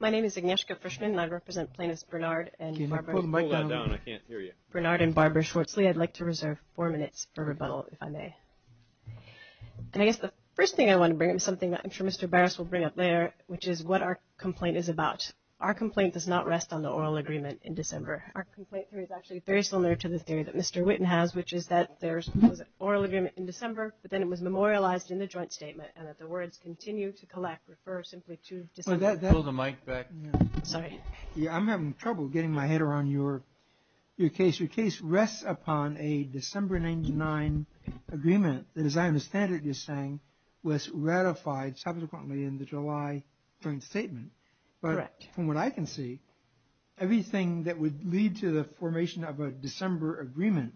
My name is Agnieszka Frischmann and I represent Plaintiffs Bernard and Barbara Schwartzley. I'd like to reserve four minutes for rebuttal if I may. And I guess the first thing I want to bring up is something that I'm sure Mr. Barras will bring up later, which is what our complaint is about. Our complaint does not rest on the oral agreement in December. Our complaint theory is actually very similar to the theory that Mr. Witten has, which is that there's an oral agreement in December, but then it was memorialized in the joint statement, and that the words continue to collect, refer simply to December. I'm having trouble getting my head around your case. Your case rests upon a December 99 agreement that, as I understand it, you're saying was ratified subsequently in the July joint statement. But from what I can see, everything that would lead to the formation of a December agreement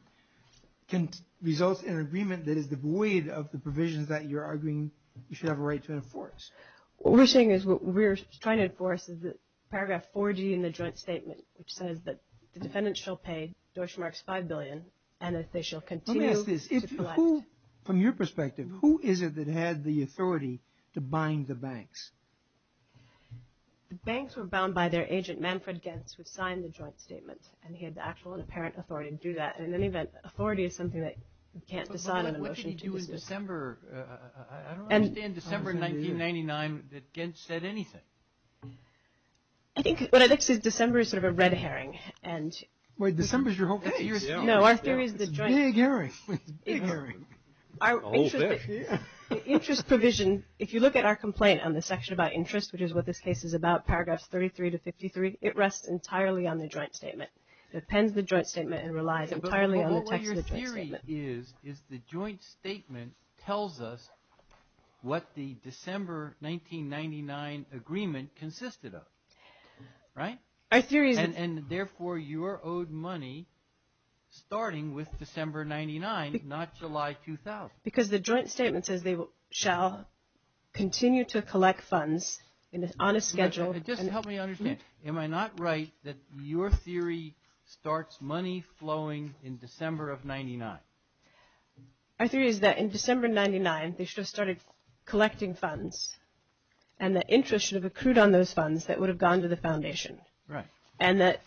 can result in an agreement that is devoid of the provisions that you're arguing you have a right to enforce. What we're saying is, what we're trying to enforce is that paragraph 40 in the joint statement, which says that the defendant shall pay Deutsche Marks five billion, and that they shall continue to collect. Let me ask this. From your perspective, who is it that had the authority to bind the banks? The banks were bound by their agent, Manfred Gens, who signed the joint statement, and he had the actual and apparent authority to do that. And in any event, authority is something that you can't decide on a motion to resist. I don't understand December 1999 that Gens said anything. I think what I'd like to say is that December is sort of a red herring. Wait, December is your whole case? No, our theory is the joint. It's a big herring. The interest provision, if you look at our complaint on the section about interest, which is what this case is about, paragraphs 33 to 53, it rests entirely on the joint statement. It appends the joint statement and relies entirely on the text of the joint statement. Our theory is the joint statement tells us what the December 1999 agreement consisted of. Right? Our theory is... And therefore, you're owed money starting with December 1999, not July 2000. Because the joint statement says they shall continue to collect funds on a schedule... Our theory is that in December 1999, they should have started collecting funds, and that interest should have accrued on those funds that would have gone to the foundation. Right. And that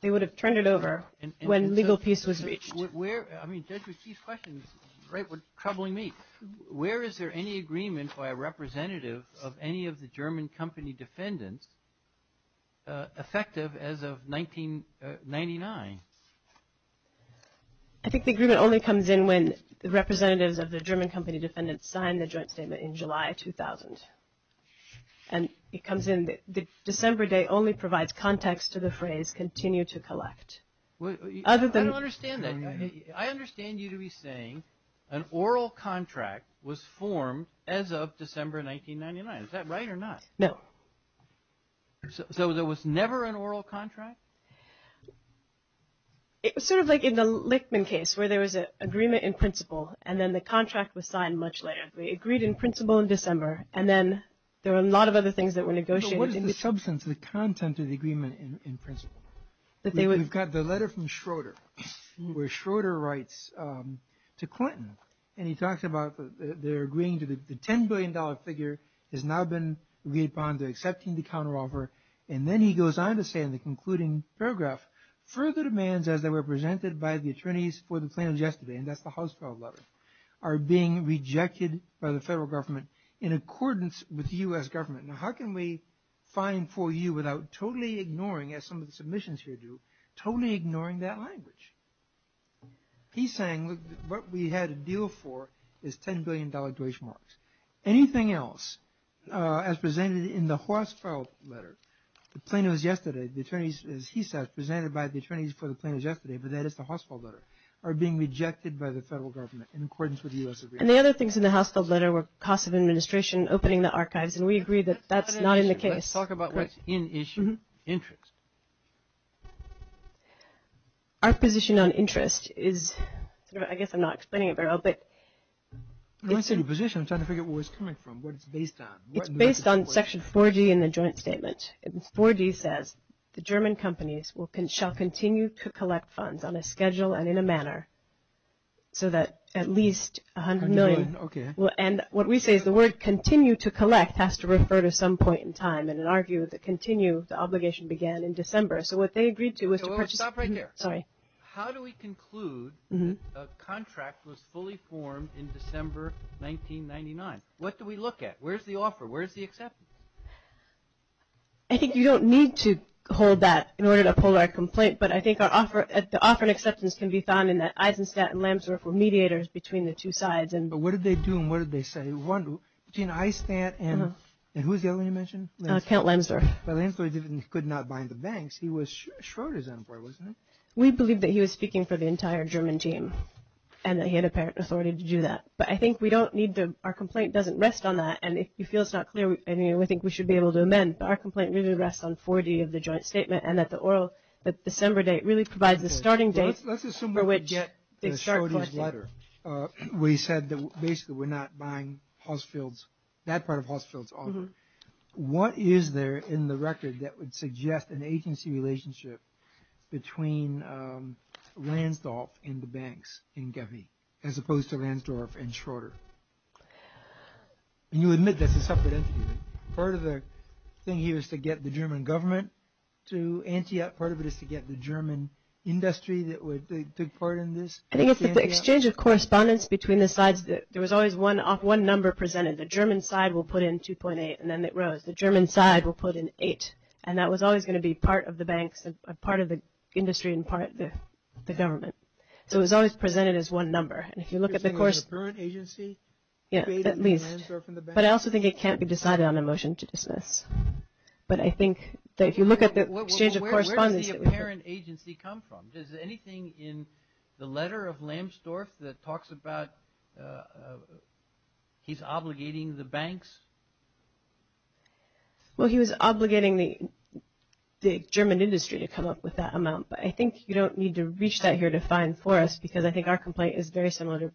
they would have turned it over when legal peace was reached. I mean, Judge Ritchie's question is troubling me. Where is there any agreement by a representative of any of the German company defendants effective as of 1999? I think the agreement only comes in when the representatives of the German company defendants sign the joint statement in July 2000. And it comes in, the December date only provides context to the phrase continue to collect. I don't understand that. I understand you to be saying an oral contract was formed as of December 1999. Is that right or not? No. So there was never an oral contract? It was sort of like in the Lichtman case where there was an agreement in principle and then the contract was signed much later. They agreed in principle in December and then there were a lot of other things that were negotiated. But what is the substance, the content of the agreement in principle? We've got the letter from Schroeder where Schroeder writes to Clinton and he talks about their agreeing to the $10 billion figure has now been agreed upon and then he goes on to say in the concluding paragraph are being rejected by the federal government in accordance with the U.S. government. Now how can we find for you without totally ignoring, as some of the submissions here do, totally ignoring that language? He's saying what we had a deal for is $10 billion Deutsche Marks. Anything else as presented in the Horsfeld letter, the plaintiffs yesterday, the attorneys, as he says, presented by the attorneys for the plaintiffs yesterday, but that is the Horsfeld letter, are being rejected by the federal government in accordance with the U.S. agreement. And the other things in the Horsfeld letter were costs of administration, opening the archives, and we agree that that's not in the case. Let's talk about what's in issue, interest. Our position on interest is, I guess I'm not explaining it very well, but when I say your position, I'm trying to figure out where it's coming from, what it's based on. It's based on section 4G in the joint statement. 4G says the German companies shall continue to collect funds on a schedule and in a manner so that at least $100 million. And what we say is the word continue to collect has to refer to some point in time. And in our view, the continue, the obligation began in December. So what they agreed to was to purchase How do we conclude that a contract was fully formed in December 1999? What do we look at? Where's the offer? Where's the acceptance? I think you don't need to hold that in order to uphold our complaint, but I think the offer and acceptance can be found in that Eisenstadt and Lamsdorff were mediators between the two sides. But what did they do and what did they say? One, between Eisenstadt and who was the other one you mentioned? Count Lamsdorff. Well, Lamsdorff could not bind the banks. He was Schroeder's employee, wasn't he? We believe that he was speaking for the entire German team and that he had apparent authority to do that. But I think we don't need to – our complaint doesn't rest on that. And if it feels not clear, I think we should be able to amend. But our complaint really rests on 4G of the joint statement and that the oral – that December date really provides the starting date for which they start collecting. Let's assume it was Schroeder's letter where he said that basically we're not buying Hossfield's – that part of Hossfield's offer. What is there in the record that would suggest an agency relationship between Lamsdorff and the banks in Gewee as opposed to Lamsdorff and Schroeder? And you admit that's a separate entity. Part of the thing here is to get the German government to Antietam. Part of it is to get the German industry that took part in this. I think it's the exchange of correspondence between the sides. There was always one number presented. The German side will put in 2.8 and then it rose. The German side will put in 8. And that was always going to be part of the banks and part of the industry and part of the government. So it was always presented as one number. And if you look at the – You're saying it was a parent agency? Yeah, at least. But I also think it can't be decided on a motion to dismiss. But I think that if you look at the exchange of correspondence – Where does the apparent agency come from? Is there anything in the letter of Lamsdorff that talks about he's obligating the banks? Well, he was obligating the German industry to come up with that amount. But I think you don't need to reach that here to find for us because I think our complaint is very similar to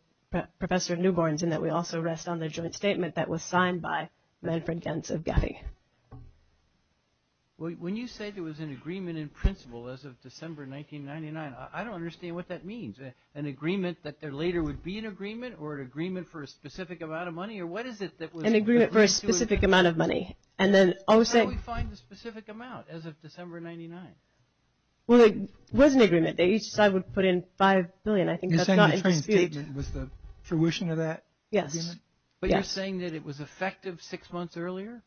Professor Newborn's in that we also rest on the joint statement that was signed by Manfred Gens of GAFI. When you say there was an agreement in principle as of December 1999, I don't understand what that means. An agreement that there later would be an agreement or an agreement for a specific amount of money? Or what is it that was – An agreement for a specific amount of money. And then – How do we find the specific amount as of December 1999? Well, there was an agreement. Each side would put in 5 billion. I think that's not in dispute. You're saying the transcript was the fruition of that agreement? Yes. But you're saying that it was effective six months earlier?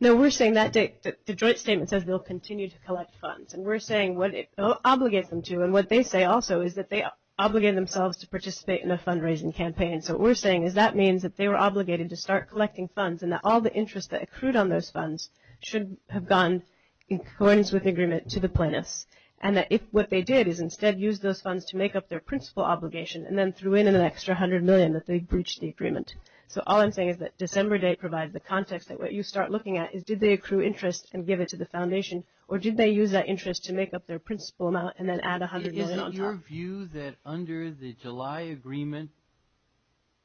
No, we're saying that the joint statement says they'll continue to collect funds. And we're saying what it obligates them to and what they say also is that they obligate themselves to participate in a fundraising campaign. So what we're saying is that means that they were obligated to start collecting funds and that all the interest that accrued on those funds should have gone in accordance with the agreement to the plaintiffs. And that what they did is instead use those funds to make up their principal obligation and then threw in an extra 100 million that they breached the agreement. So all I'm saying is that December date provides the context that what you start looking at is did they accrue interest and give it to the foundation or did they use that interest to make up their principal amount and then add 100 million on top? Isn't it your view that under the July agreement,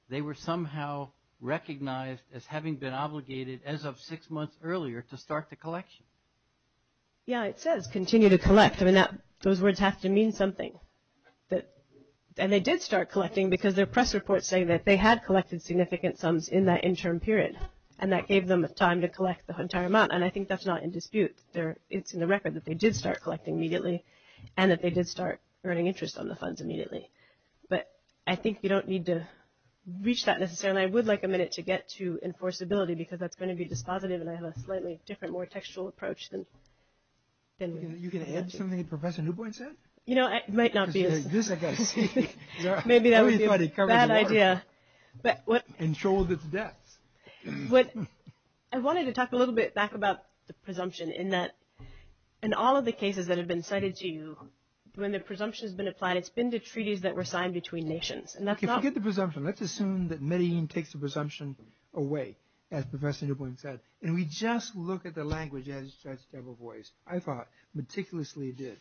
they were somehow recognized as having been obligated as of six months earlier to start the collection? Yeah, it says continue to collect. I mean, those words have to mean something. And they did start collecting because their press reports say that they had collected significant sums in that interim period and that gave them time to collect the entire amount. And I think that's not in dispute. It's in the record that they did start collecting immediately and that they did start earning interest on the funds immediately. But I think you don't need to reach that necessarily. I would like a minute to get to enforceability because that's going to be dispositive and I have a slightly different, more textual approach. You can add something that Professor Newpoint said? You know, it might not be as... This I've got to see. Maybe that would be a bad idea. But what... And sold its debts. I wanted to talk a little bit back about the presumption in that in all of the cases that have been cited to you, when the presumption has been applied, it's been to treaties that were signed between nations. Forget the presumption. Let's assume that Medellin takes the presumption away, as Professor Newpoint said. And we just look at the language as such type of voice. I thought meticulously it did.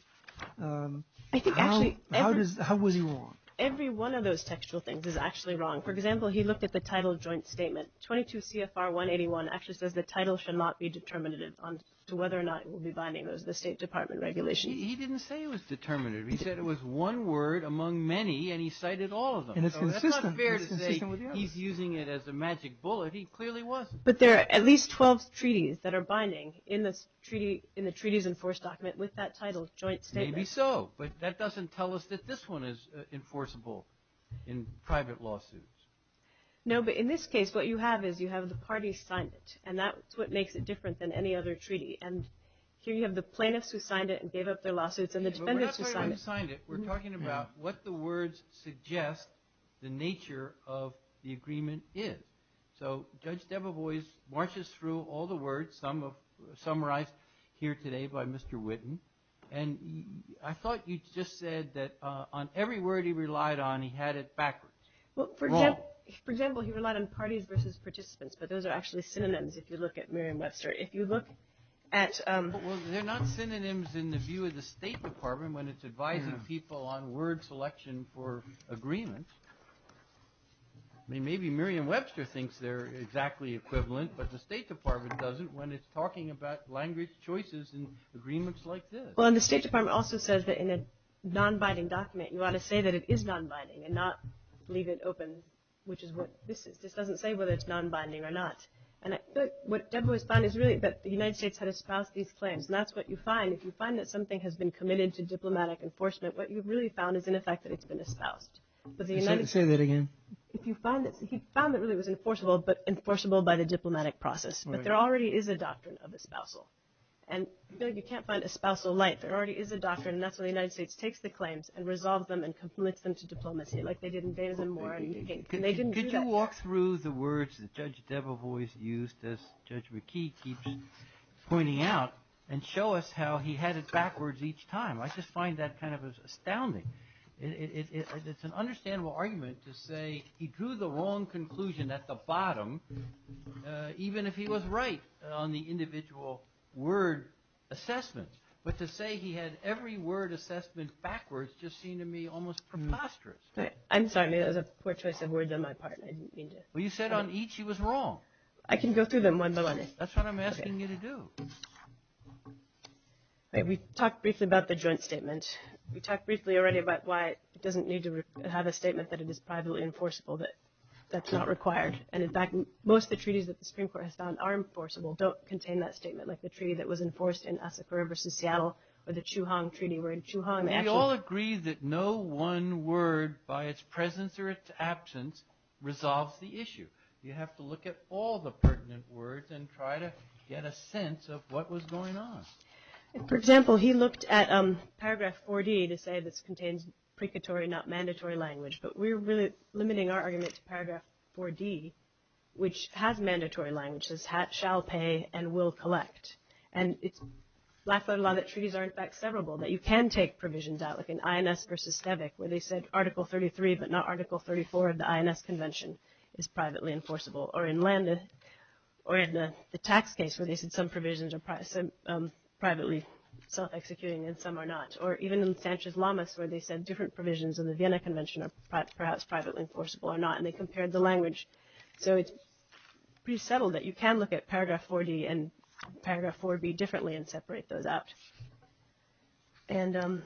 How was he wrong? Every one of those textual things is actually wrong. For example, he looked at the title joint statement. 22 CFR 181 actually says the title should not be determinative as to whether or not it will be binding. It was the State Department regulations. He didn't say it was determinative. He said it was one word among many and he cited all of them. And it's consistent. So that's not fair to say he's using it as a magic bullet. He clearly wasn't. But there are at least 12 treaties that are binding in the treaties enforced document with that title joint statement. Maybe so. But that doesn't tell us that this one is enforceable in private lawsuits. No, but in this case what you have is you have the parties signed it. And that's what makes it different than any other treaty. And here you have the plaintiffs who signed it and gave up their lawsuits and the defendants who signed it. We're not talking about who signed it. We're talking about what the words suggest the nature of the agreement is. So Judge Debevoise marches through all the words, some summarized here today by Mr. Whitten. And I thought you just said that on every word he relied on he had it backwards. Well, for example, he relied on parties versus participants. But those are actually synonyms if you look at Merriam-Webster. If you look at – Well, they're not synonyms in the view of the State Department when it's advising people on word selection for agreements. Maybe Merriam-Webster thinks they're exactly equivalent, but the State Department doesn't when it's talking about language choices and agreements like this. Well, and the State Department also says that in a nonbinding document you ought to say that it is nonbinding and not leave it open, which is what this is. This doesn't say whether it's nonbinding or not. And what Debevoise found is really that the United States had espoused these claims. And that's what you find. If you find that something has been committed to diplomatic enforcement, what you've really found is in effect that it's been espoused. Say that again. If you find that – he found that really it was enforceable, but enforceable by the diplomatic process. But there already is a doctrine of espousal. And you can't find espousal light. There already is a doctrine, and that's when the United States takes the claims and resolves them and complements them to diplomacy, like they did in Benazem War and they didn't do that. Could you walk through the words that Judge Debevoise used, as Judge McKee keeps pointing out, and show us how he had it backwards each time? I just find that kind of astounding. It's an understandable argument to say he drew the wrong conclusion at the bottom, even if he was right on the individual word assessments. But to say he had every word assessment backwards just seemed to me almost preposterous. I'm sorry. That was a poor choice of words on my part. Well, you said on each he was wrong. I can go through them one by one. That's what I'm asking you to do. We talked briefly about the joint statement. We talked briefly already about why it doesn't need to have a statement that it is privately enforceable, that that's not required. And, in fact, most of the treaties that the Supreme Court has found are enforceable, don't contain that statement, like the treaty that was enforced in Asakura versus Seattle or the Chu Hong Treaty. We're in Chu Hong. We all agree that no one word, by its presence or its absence, resolves the issue. You have to look at all the pertinent words and try to get a sense of what was going on. For example, he looked at Paragraph 4D to say this contains precatory, not mandatory, language. But we're really limiting our argument to Paragraph 4D, which has mandatory language. It says shall pay and will collect. And it's laughable that treaties are, in fact, severable, that you can take provisions out, like in INS versus STEVIC, where they said Article 33, but not Article 34 of the INS Convention is privately enforceable. Or in the tax case where they said some provisions are privately self-executing and some are not. Or even in Sanchez-Lamas where they said different provisions in the Vienna Convention are perhaps privately enforceable or not, and they compared the language. So it's pretty subtle that you can look at Paragraph 4D and Paragraph 4B differently and separate those out. And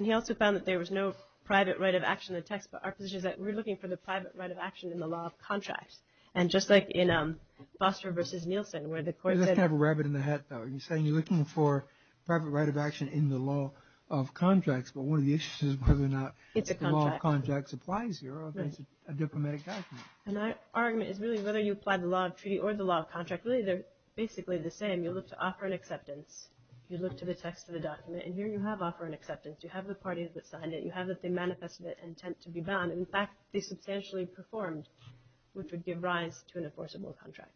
he also found that there was no private right of action in the text, but our position is that we're looking for the private right of action in the law of contracts. And just like in Foster versus Nielsen, where the court said— That's kind of a rabbit in the hat, though. You're saying you're looking for private right of action in the law of contracts, but one of the issues is whether or not the law of contracts applies here or if it's a diplomatic document. And our argument is really whether you apply the law of treaty or the law of contract, really they're basically the same. You look to offer an acceptance. You look to the text of the document, and here you have offer and acceptance. You have the parties that signed it. You have that they manifested an intent to be done. In fact, they substantially performed, which would give rise to an enforceable contract.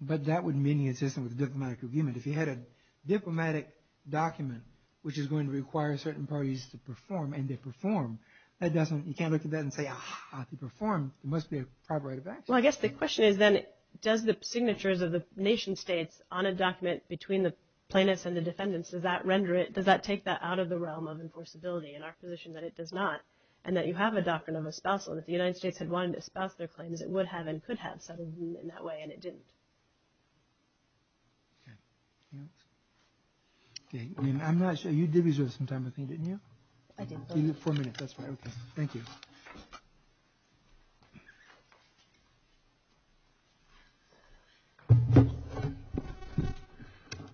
But that wouldn't be in the existing diplomatic agreement. If you had a diplomatic document, which is going to require certain parties to perform, and they perform, you can't look at that and say, ah, they performed. There must be a private right of action. Well, I guess the question is then, does the signatures of the nation states on a document between the plaintiffs and the defendants, does that render it, does that take that out of the realm of enforceability? And our position is that it does not, and that you have a doctrine of espousal. If the United States had wanted to espouse their claims, it would have and could have settled them in that way, and it didn't. I'm not sure. You did reserve some time with me, didn't you? I did. Four minutes, that's fine. Okay, thank you.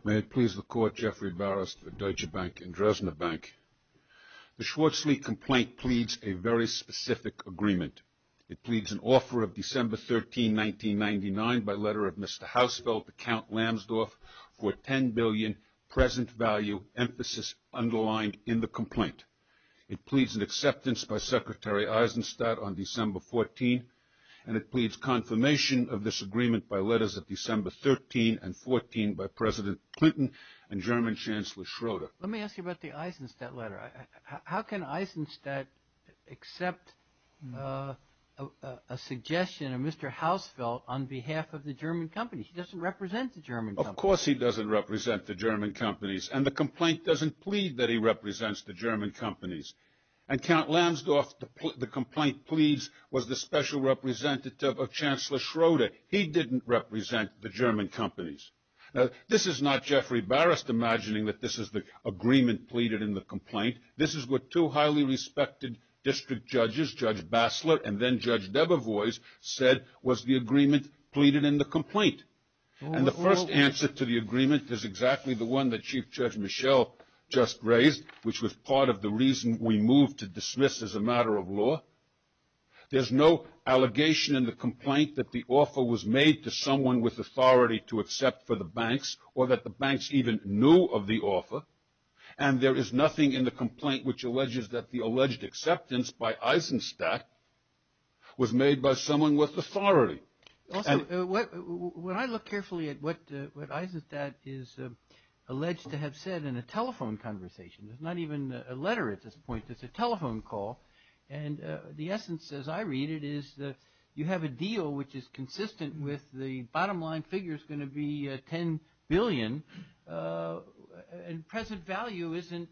May it please the Court, Jeffrey Barras, Deutsche Bank, and Dresdner Bank. The Schwarzly complaint pleads a very specific agreement. It pleads an offer of December 13, 1999, by letter of Mr. Hausfeld to Count Lamsdorff, for $10 billion present value emphasis underlined in the complaint. It pleads an acceptance by Secretary Eisenstadt on December 14, and it pleads confirmation of this agreement by letters of December 13 and 14 by President Clinton and German Chancellor Schroeder. Let me ask you about the Eisenstadt letter. How can Eisenstadt accept a suggestion of Mr. Hausfeld on behalf of the German company? He doesn't represent the German company. Of course he doesn't represent the German companies, and the complaint doesn't plead that he represents the German companies. And Count Lamsdorff, the complaint pleads, was the special representative of Chancellor Schroeder. He didn't represent the German companies. Now, this is not Jeffrey Barras imagining that this is the agreement pleaded in the complaint. This is what two highly respected district judges, Judge Bassler and then Judge Debevoise, said was the agreement pleaded in the complaint. And the first answer to the agreement is exactly the one that Chief Judge Michel just raised, which was part of the reason we moved to dismiss as a matter of law. There's no allegation in the complaint that the offer was made to someone with authority to accept for the banks or that the banks even knew of the offer, and there is nothing in the complaint which alleges that the alleged acceptance by Eisenstadt was made by someone with authority. Also, when I look carefully at what Eisenstadt is alleged to have said in a telephone conversation, there's not even a letter at this point, there's a telephone call, and the essence as I read it is that you have a deal which is consistent with the bottom line figure is going to be $10 billion, and present value isn't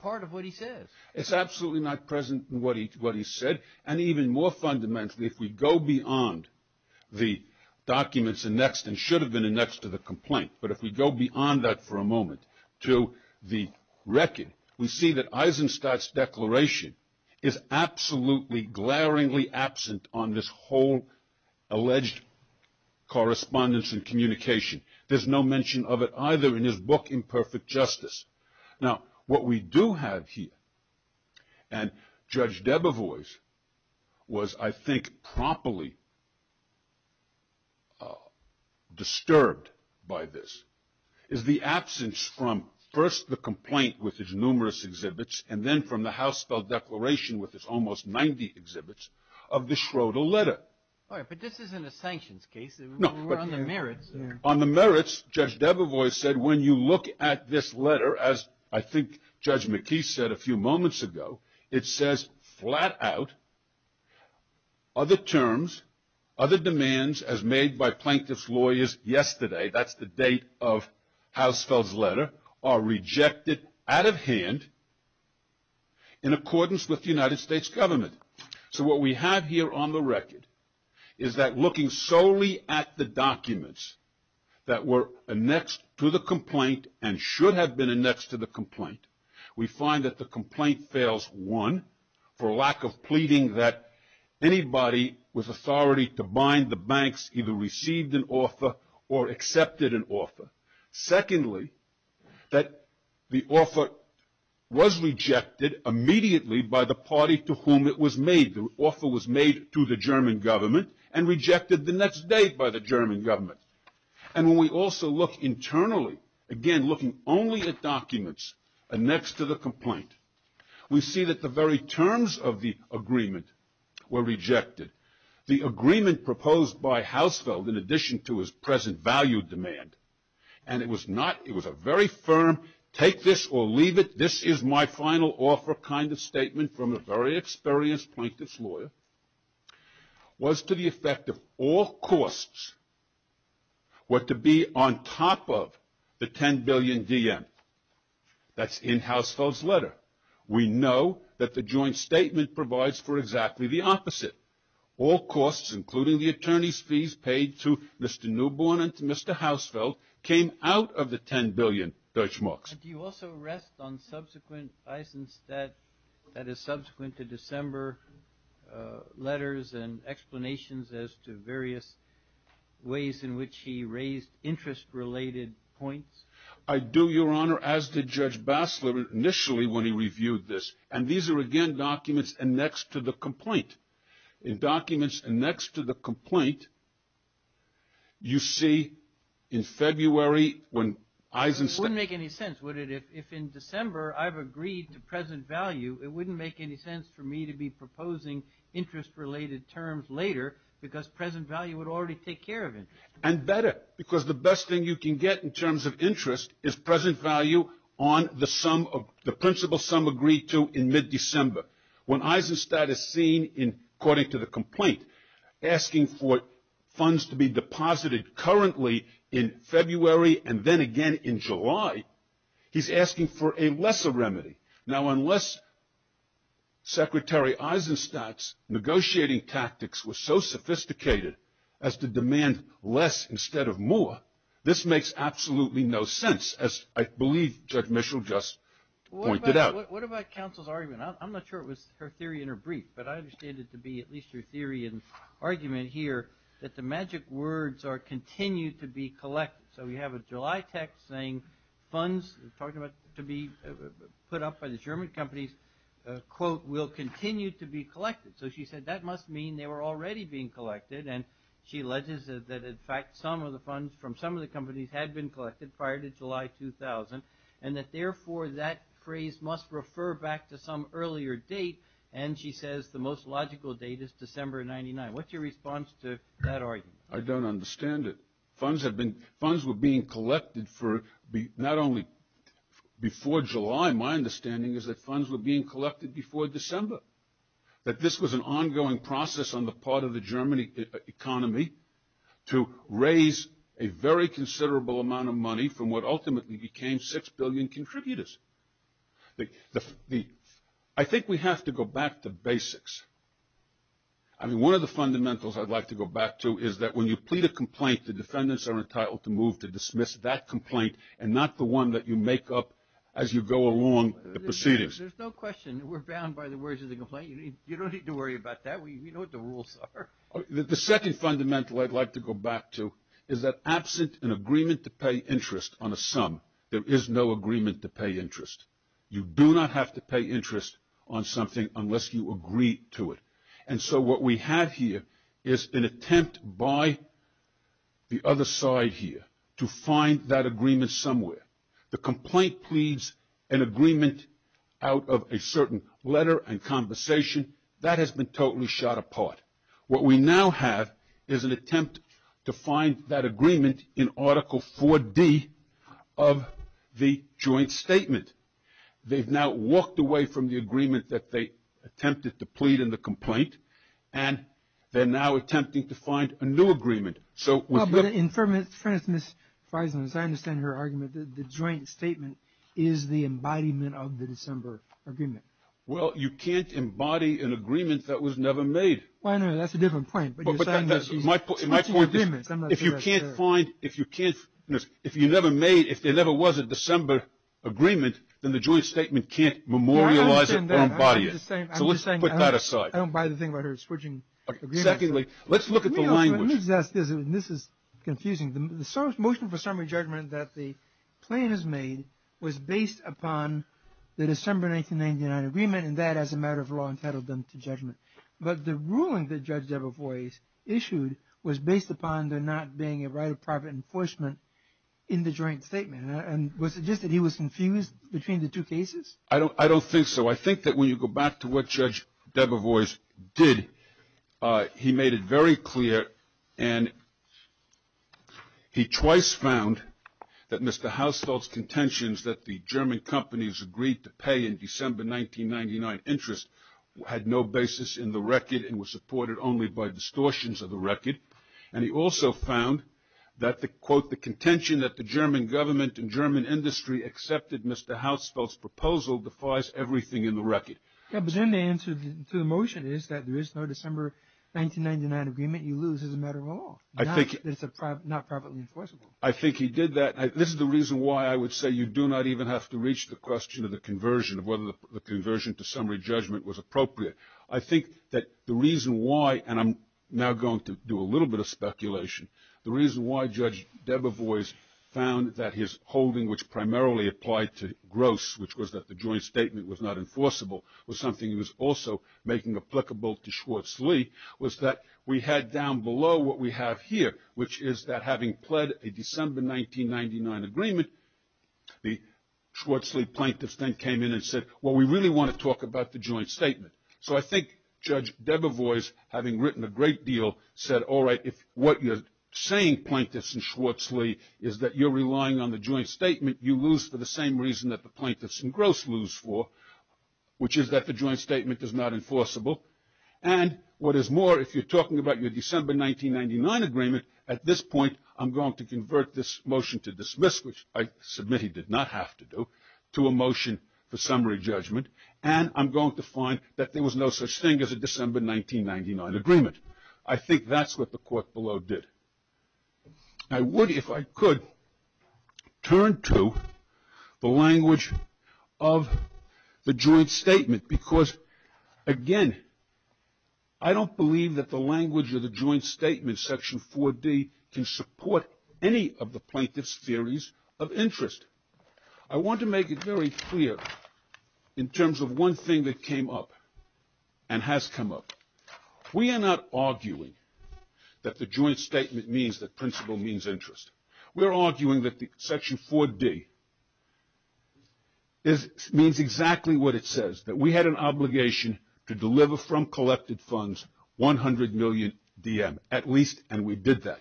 part of what he says. It's absolutely not present in what he said, and even more fundamentally if we go beyond the documents annexed and should have been annexed to the complaint, but if we go beyond that for a moment to the record, we see that Eisenstadt's declaration is absolutely glaringly absent on this whole alleged correspondence and communication. There's no mention of it either in his book Imperfect Justice. Now, what we do have here, and Judge Debevoise was I think promptly disturbed by this, is the absence from first the complaint with its numerous exhibits, and then from the Housefeld Declaration with its almost 90 exhibits of the Schroeder letter. All right, but this isn't a sanctions case, we're on the merits. On the merits, Judge Debevoise said when you look at this letter, as I think Judge McKee said a few moments ago, it says flat out other terms, other demands as made by plaintiff's lawyers yesterday, that's the date of Housefeld's letter, are rejected out of hand in accordance with the United States government. So what we have here on the record is that looking solely at the documents that were annexed to the complaint and should have been annexed to the complaint, we find that the complaint fails, one, for lack of pleading that anybody with authority to bind the banks either received an offer or accepted an offer. Secondly, that the offer was rejected immediately by the party to whom it was made. The offer was made to the German government and rejected the next day by the German government. And when we also look internally, again looking only at documents annexed to the complaint, we see that the very terms of the agreement were rejected. The agreement proposed by Housefeld in addition to his present value demand, and it was a very firm take this or leave it, this is my final offer kind of statement from a very experienced plaintiff's lawyer, was to the effect of all costs were to be on top of the 10 billion DM. We know that the joint statement provides for exactly the opposite. All costs, including the attorney's fees paid to Mr. Newborn and to Mr. Housefeld, came out of the 10 billion DM. Do you also rest on subsequent Eisenstat, that is subsequent to December, letters and explanations as to various ways in which he raised interest-related points? I do, Your Honor, as did Judge Bassler initially when he reviewed this. And these are, again, documents annexed to the complaint. In documents annexed to the complaint, you see in February when Eisenstat... It wouldn't make any sense, would it, if in December I've agreed to present value, it wouldn't make any sense for me to be proposing interest-related terms later, because present value would already take care of it. And better, because the best thing you can get in terms of interest is present value on the principal sum agreed to in mid-December. When Eisenstat is seen, according to the complaint, asking for funds to be deposited currently in February and then again in July, he's asking for a lesser remedy. Now, unless Secretary Eisenstat's negotiating tactics were so sophisticated as to demand less instead of more, this makes absolutely no sense, as I believe Judge Mischel just pointed out. What about counsel's argument? I'm not sure it was her theory in her brief, but I understand it to be at least her theory and argument here that the magic words continue to be collected. So we have a July text saying funds to be put up by the German companies, quote, will continue to be collected. So she said that must mean they were already being collected, and she alleges that in fact some of the funds from some of the companies had been collected prior to July 2000, and that therefore that phrase must refer back to some earlier date, and she says the most logical date is December 99. What's your response to that argument? I don't understand it. Funds were being collected not only before July, my understanding is that funds were being collected before December, that this was an ongoing process on the part of the German economy to raise a very considerable amount of money from what ultimately became 6 billion contributors. I think we have to go back to basics. I mean, one of the fundamentals I'd like to go back to is that when you plead a complaint, the defendants are entitled to move to dismiss that complaint and not the one that you make up as you go along the proceedings. There's no question. We're bound by the words of the complaint. You don't need to worry about that. We know what the rules are. The second fundamental I'd like to go back to is that absent an agreement to pay interest on a sum, there is no agreement to pay interest. You do not have to pay interest on something unless you agree to it. And so what we have here is an attempt by the other side here to find that agreement somewhere. The complaint pleads an agreement out of a certain letter and conversation. That has been totally shot apart. What we now have is an attempt to find that agreement in Article 4D of the joint statement. They've now walked away from the agreement that they attempted to plead in the complaint, and they're now attempting to find a new agreement. But in fairness to Ms. Friesland, as I understand her argument, the joint statement is the embodiment of the December agreement. Well, you can't embody an agreement that was never made. Well, I know. That's a different point. My point is if you can't find, if you never made, if there never was a December agreement, then the joint statement can't memorialize it or embody it. So let's put that aside. I don't buy the thing about her switching agreements. Secondly, let's look at the language. Let me just ask this, and this is confusing. The motion for summary judgment that the plaintiff made was based upon the December 1999 agreement, and that as a matter of law entitled them to judgment. But the ruling that Judge Debevoise issued was based upon there not being a right of private enforcement in the joint statement. And was it just that he was confused between the two cases? I don't think so. I think that when you go back to what Judge Debevoise did, he made it very clear, and he twice found that Mr. Hausfeld's contentions that the German companies agreed to pay in December 1999 interest had no basis in the record and were supported only by distortions of the record. And he also found that the, quote, the contention that the German government and German industry accepted Mr. Hausfeld's proposal defies everything in the record. Yeah, but then the answer to the motion is that there is no December 1999 agreement you lose as a matter of law. It's not privately enforceable. I think he did that. This is the reason why I would say you do not even have to reach the question of the conversion, of whether the conversion to summary judgment was appropriate. I think that the reason why, and I'm now going to do a little bit of speculation, the reason why Judge Debevoise found that his holding, which primarily applied to Gross, which was that the joint statement was not enforceable, was something he was also making applicable to Schwarzlee, was that we had down below what we have here, which is that having pled a December 1999 agreement, the Schwarzlee plaintiffs then came in and said, well, we really want to talk about the joint statement. So I think Judge Debevoise, having written a great deal, said, all right, if what you're saying, plaintiffs and Schwarzlee, is that you're relying on the joint statement, you lose for the same reason that the plaintiffs and Gross lose for, which is that the joint statement is not enforceable. And what is more, if you're talking about your December 1999 agreement, at this point I'm going to convert this motion to dismiss, which I submit he did not have to do, to a motion for summary judgment, and I'm going to find that there was no such thing as a December 1999 agreement. I think that's what the court below did. I would, if I could, turn to the language of the joint statement, because, again, I don't believe that the language of the joint statement, Section 4D, can support any of the plaintiffs' theories of interest. I want to make it very clear in terms of one thing that came up and has come up. We are not arguing that the joint statement means that principle means interest. We are arguing that Section 4D means exactly what it says, that we had an obligation to deliver from collected funds 100 million DM, at least, and we did that.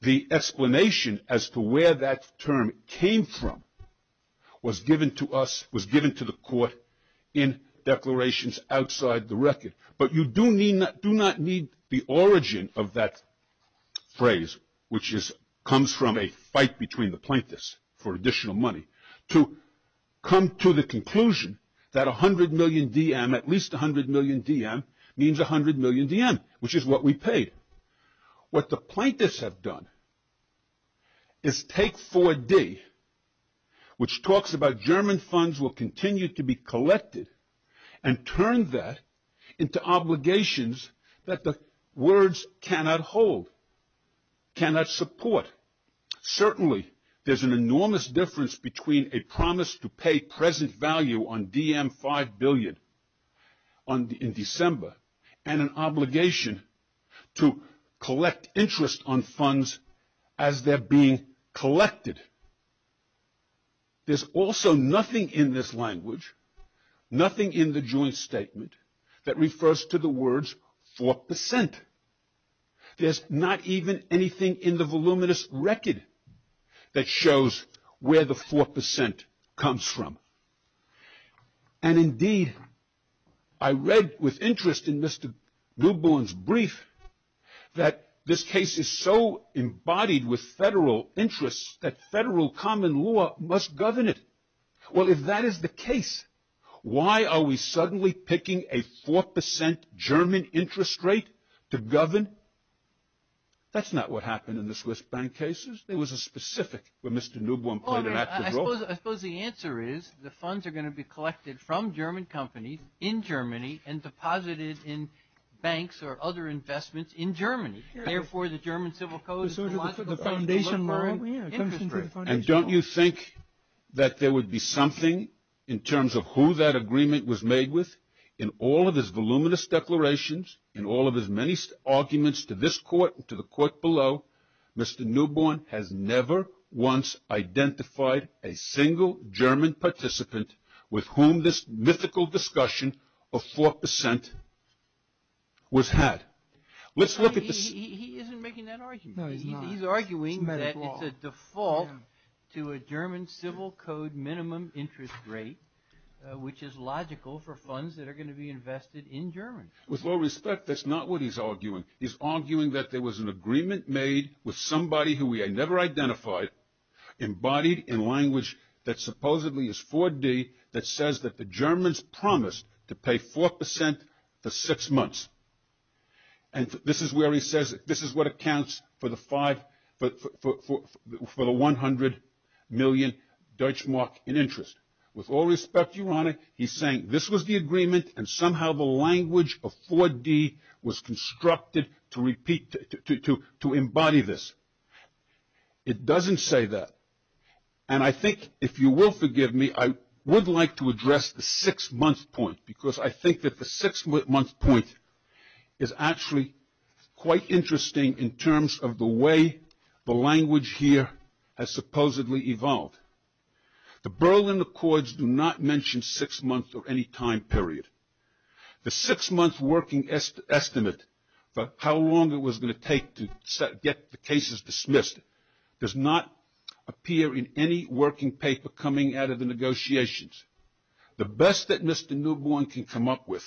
The explanation as to where that term came from was given to us, in declarations outside the record. But you do not need the origin of that phrase, which comes from a fight between the plaintiffs for additional money, to come to the conclusion that 100 million DM, at least 100 million DM, means 100 million DM, which is what we paid. What the plaintiffs have done is take 4D, which talks about German funds will continue to be collected, and turn that into obligations that the words cannot hold, cannot support. Certainly, there's an enormous difference between a promise to pay present value on DM 5 billion in December, and an obligation to collect interest on funds as they're being collected. There's also nothing in this language, nothing in the joint statement, that refers to the words 4%. There's not even anything in the voluminous record that shows where the 4% comes from. And indeed, I read with interest in Mr. Newborn's brief, that this case is so embodied with federal interests that federal common law must govern it. Well, if that is the case, why are we suddenly picking a 4% German interest rate to govern? That's not what happened in the Swiss bank cases. There was a specific where Mr. Newborn played an active role. I suppose the answer is, the funds are going to be collected from German companies in Germany, and deposited in banks or other investments in Germany. Therefore, the German Civil Code is the logical foundation line interest rate. And don't you think that there would be something in terms of who that agreement was made with? In all of his voluminous declarations, in all of his many arguments to this court and to the court below, Mr. Newborn has never once identified a single German participant with whom this mythical discussion of 4% was had. He isn't making that argument. He's arguing that it's a default to a German Civil Code minimum interest rate, which is logical for funds that are going to be invested in Germany. With all respect, that's not what he's arguing. He's arguing that there was an agreement made with somebody who we had never identified, embodied in language that supposedly is 4D, that says that the Germans promised to pay 4% for six months. And this is where he says, this is what accounts for the 100 million Deutschmark in interest. With all respect, Your Honor, he's saying this was the agreement, and somehow the language of 4D was constructed to repeat, to embody this. It doesn't say that. And I think, if you will forgive me, I would like to address the six-month point, because I think that the six-month point is actually quite interesting in terms of the way the language here has supposedly evolved. The Berlin Accords do not mention six months or any time period. The six-month working estimate for how long it was going to take to get the cases dismissed does not appear in any working paper coming out of the negotiations. The best that Mr. Newborn can come up with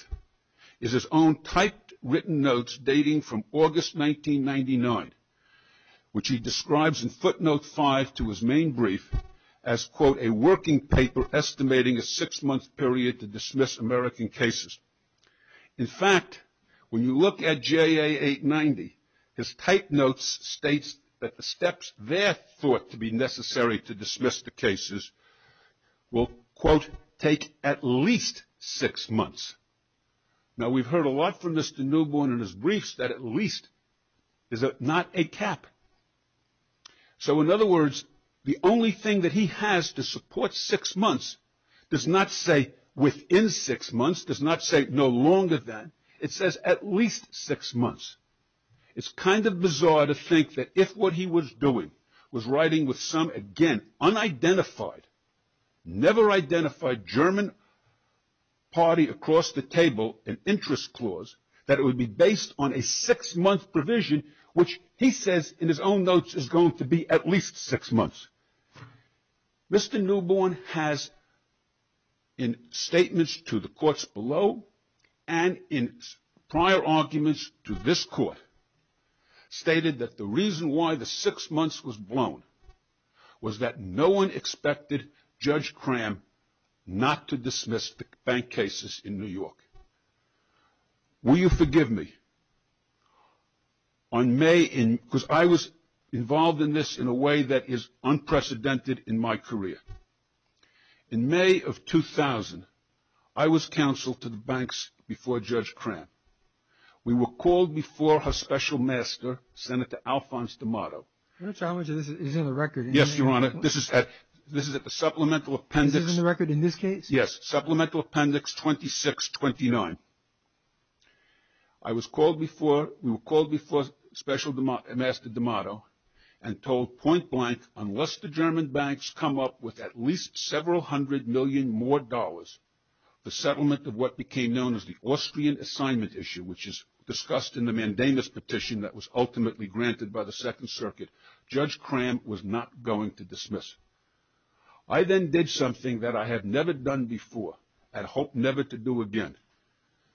is his own typed written notes dating from August 1999, which he describes in footnote five to his main brief as, quote, a working paper estimating a six-month period to dismiss American cases. In fact, when you look at JA 890, his typed notes states that the steps there thought to be necessary to dismiss the cases will, quote, take at least six months. Now, we've heard a lot from Mr. Newborn in his briefs that at least is not a cap. So, in other words, the only thing that he has to support six months does not say within six months, does not say no longer than. It says at least six months. It's kind of bizarre to think that if what he was doing was writing with some, again, unidentified, never identified German party across the table in interest clause, that it would be based on a six-month provision, which he says in his own notes is going to be at least six months. Mr. Newborn has, in statements to the courts below and in prior arguments to this court, stated that the reason why the six months was blown was that no one expected Judge Cram not to dismiss the bank cases in New York. Will you forgive me? On May, because I was involved in this in a way that is unprecedented in my career. In May of 2000, I was counsel to the banks before Judge Cram. We were called before her special master, Senator Alphonse D'Amato. Your Honor, this is in the record. Yes, Your Honor. This is at the supplemental appendix. This is in the record in this case? Yes. Supplemental appendix 2629. I was called before, we were called before Special Master D'Amato and told point blank, unless the German banks come up with at least several hundred million more dollars, the settlement of what became known as the Austrian Assignment Issue, which is discussed in the mandamus petition that was ultimately granted by the Second Circuit, Judge Cram was not going to dismiss. I then did something that I had never done before and hope never to do again.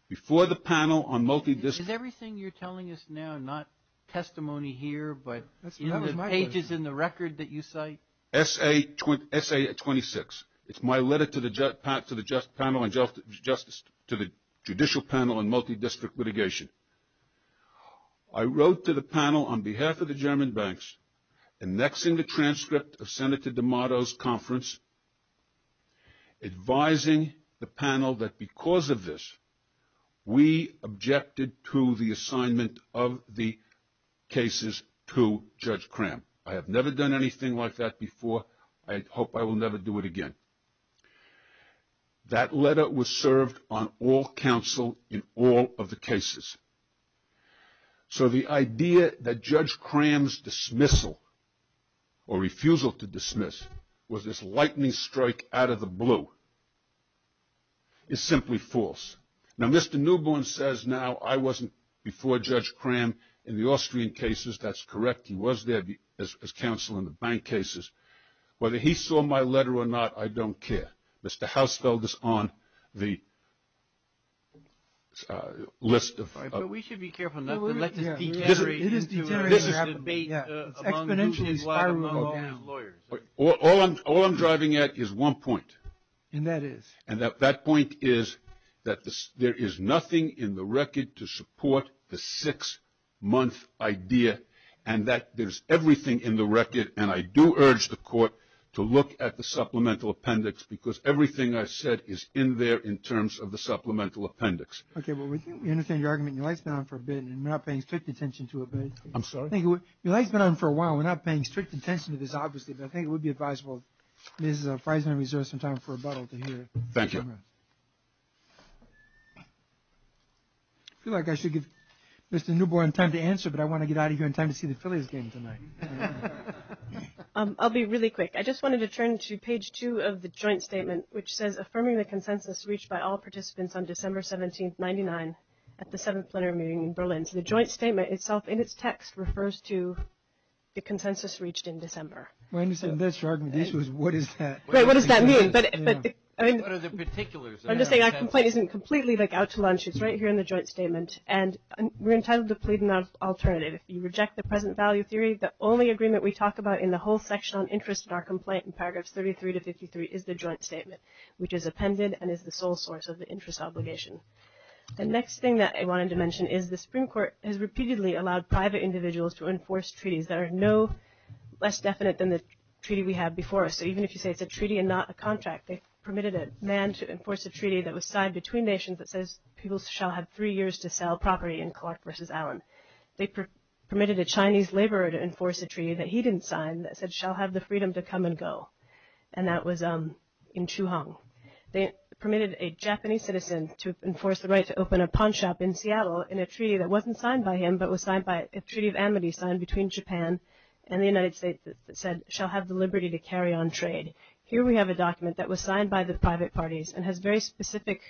Before the panel on multidisciplinary. Is everything you're telling us now not testimony here but in the pages in the record that you cite? S.A. 26. It's my letter to the panel on multidistrict litigation. I wrote to the panel on behalf of the German banks, annexing the transcript of Senator D'Amato's conference, advising the panel that because of this we objected to the assignment of the cases to Judge Cram. I have never done anything like that before. I hope I will never do it again. That letter was served on all counsel in all of the cases. So the idea that Judge Cram's dismissal or refusal to dismiss was this lightning strike out of the blue is simply false. Now, Mr. Newborn says now I wasn't before Judge Cram in the Austrian cases. That's correct. He was there as counsel in the bank cases. Whether he saw my letter or not, I don't care. Mr. Hausfeld is on the list of. We should be careful not to let this degenerate into a debate among lawyers. All I'm driving at is one point. And that is? And that point is that there is nothing in the record to support the six-month idea and that there's everything in the record. And I do urge the court to look at the supplemental appendix because everything I said is in there in terms of the supplemental appendix. Okay. Well, we think we understand your argument. Your light's been on for a bit and we're not paying strict attention to it. I'm sorry? Your light's been on for a while. We're not paying strict attention to this, obviously, but I think it would be advisable, Mrs. Friesman, to reserve some time for rebuttal to hear it. Thank you. I feel like I should give Mr. Newborn time to answer, but I want to get out of here in time to see the Phillies game tonight. I'll be really quick. I just wanted to turn to page two of the joint statement, which says affirming the consensus reached by all participants on December 17th, 1999, at the seventh plenary meeting in Berlin. So the joint statement itself in its text refers to the consensus reached in December. My understanding of this argument is what is that? Right. What does that mean? What are the particulars? I'm just saying our complaint isn't completely, like, out to lunch. It's right here in the joint statement. And we're entitled to plead an alternative. If you reject the present value theory, the only agreement we talk about in the whole section on interest in our complaint, in paragraphs 33 to 53, is the joint statement, which is appended and is the sole source of the interest obligation. The next thing that I wanted to mention is the Supreme Court has repeatedly allowed private individuals to enforce treaties that are no less definite than the treaty we have before us. So even if you say it's a treaty and not a contract, they permitted a man to enforce a treaty that was signed between nations that says people shall have three years to sell property in Clark v. Allen. They permitted a Chinese laborer to enforce a treaty that he didn't sign that said shall have the freedom to come and go. And that was in Chu Hong. They permitted a Japanese citizen to enforce the right to open a pawn shop in Seattle in a treaty that wasn't signed by him, but was signed by a treaty of enmity signed between Japan and the United States that said shall have the liberty to carry on trade. Here we have a document that was signed by the private parties and has very specific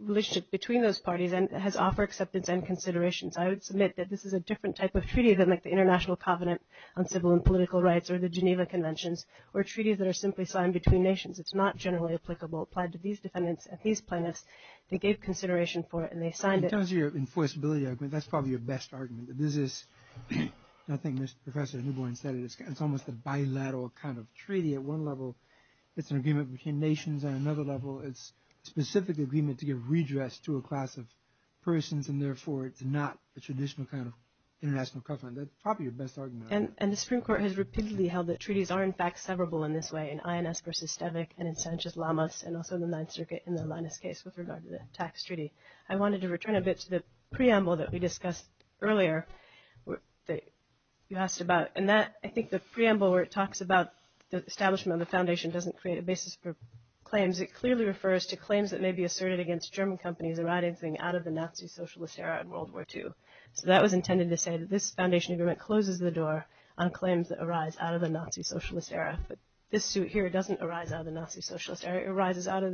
relationship between those parties and has offer acceptance and considerations. I would submit that this is a different type of treaty than like the International Covenant on Civil and Political Rights or the Geneva Conventions or treaties that are simply signed between nations. It's not generally applicable. Applied to these defendants and these plaintiffs, they gave consideration for it and they signed it. In terms of your enforceability argument, that's probably your best argument. I think Professor Newborn said it. It's almost a bilateral kind of treaty at one level. It's an agreement between nations at another level. It's a specific agreement to give redress to a class of persons and therefore it's not a traditional kind of international covenant. That's probably your best argument. And the Supreme Court has repeatedly held that treaties are in fact severable in this way in INS versus STEVIC and in Sanchez-Lamas and also the Ninth Circuit in the Linus case with regard to the tax treaty. I wanted to return a bit to the preamble that we discussed earlier. I think the preamble where it talks about the establishment of a foundation doesn't create a basis for claims. It clearly refers to claims that may be asserted against German companies arising out of the Nazi socialist era in World War II. So that was intended to say that this foundation agreement closes the door on claims that arise out of the Nazi socialist era. But this suit here doesn't arise out of the Nazi socialist era. It arises out of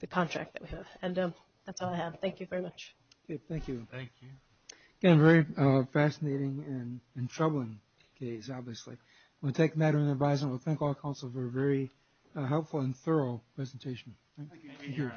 the contract that we have. And that's all I have. Thank you very much. Thank you. Thank you. Again, a very fascinating and troubling case, obviously. I want to take a minute of your time. I want to thank all the counsel for a very helpful and thorough presentation. Thank you.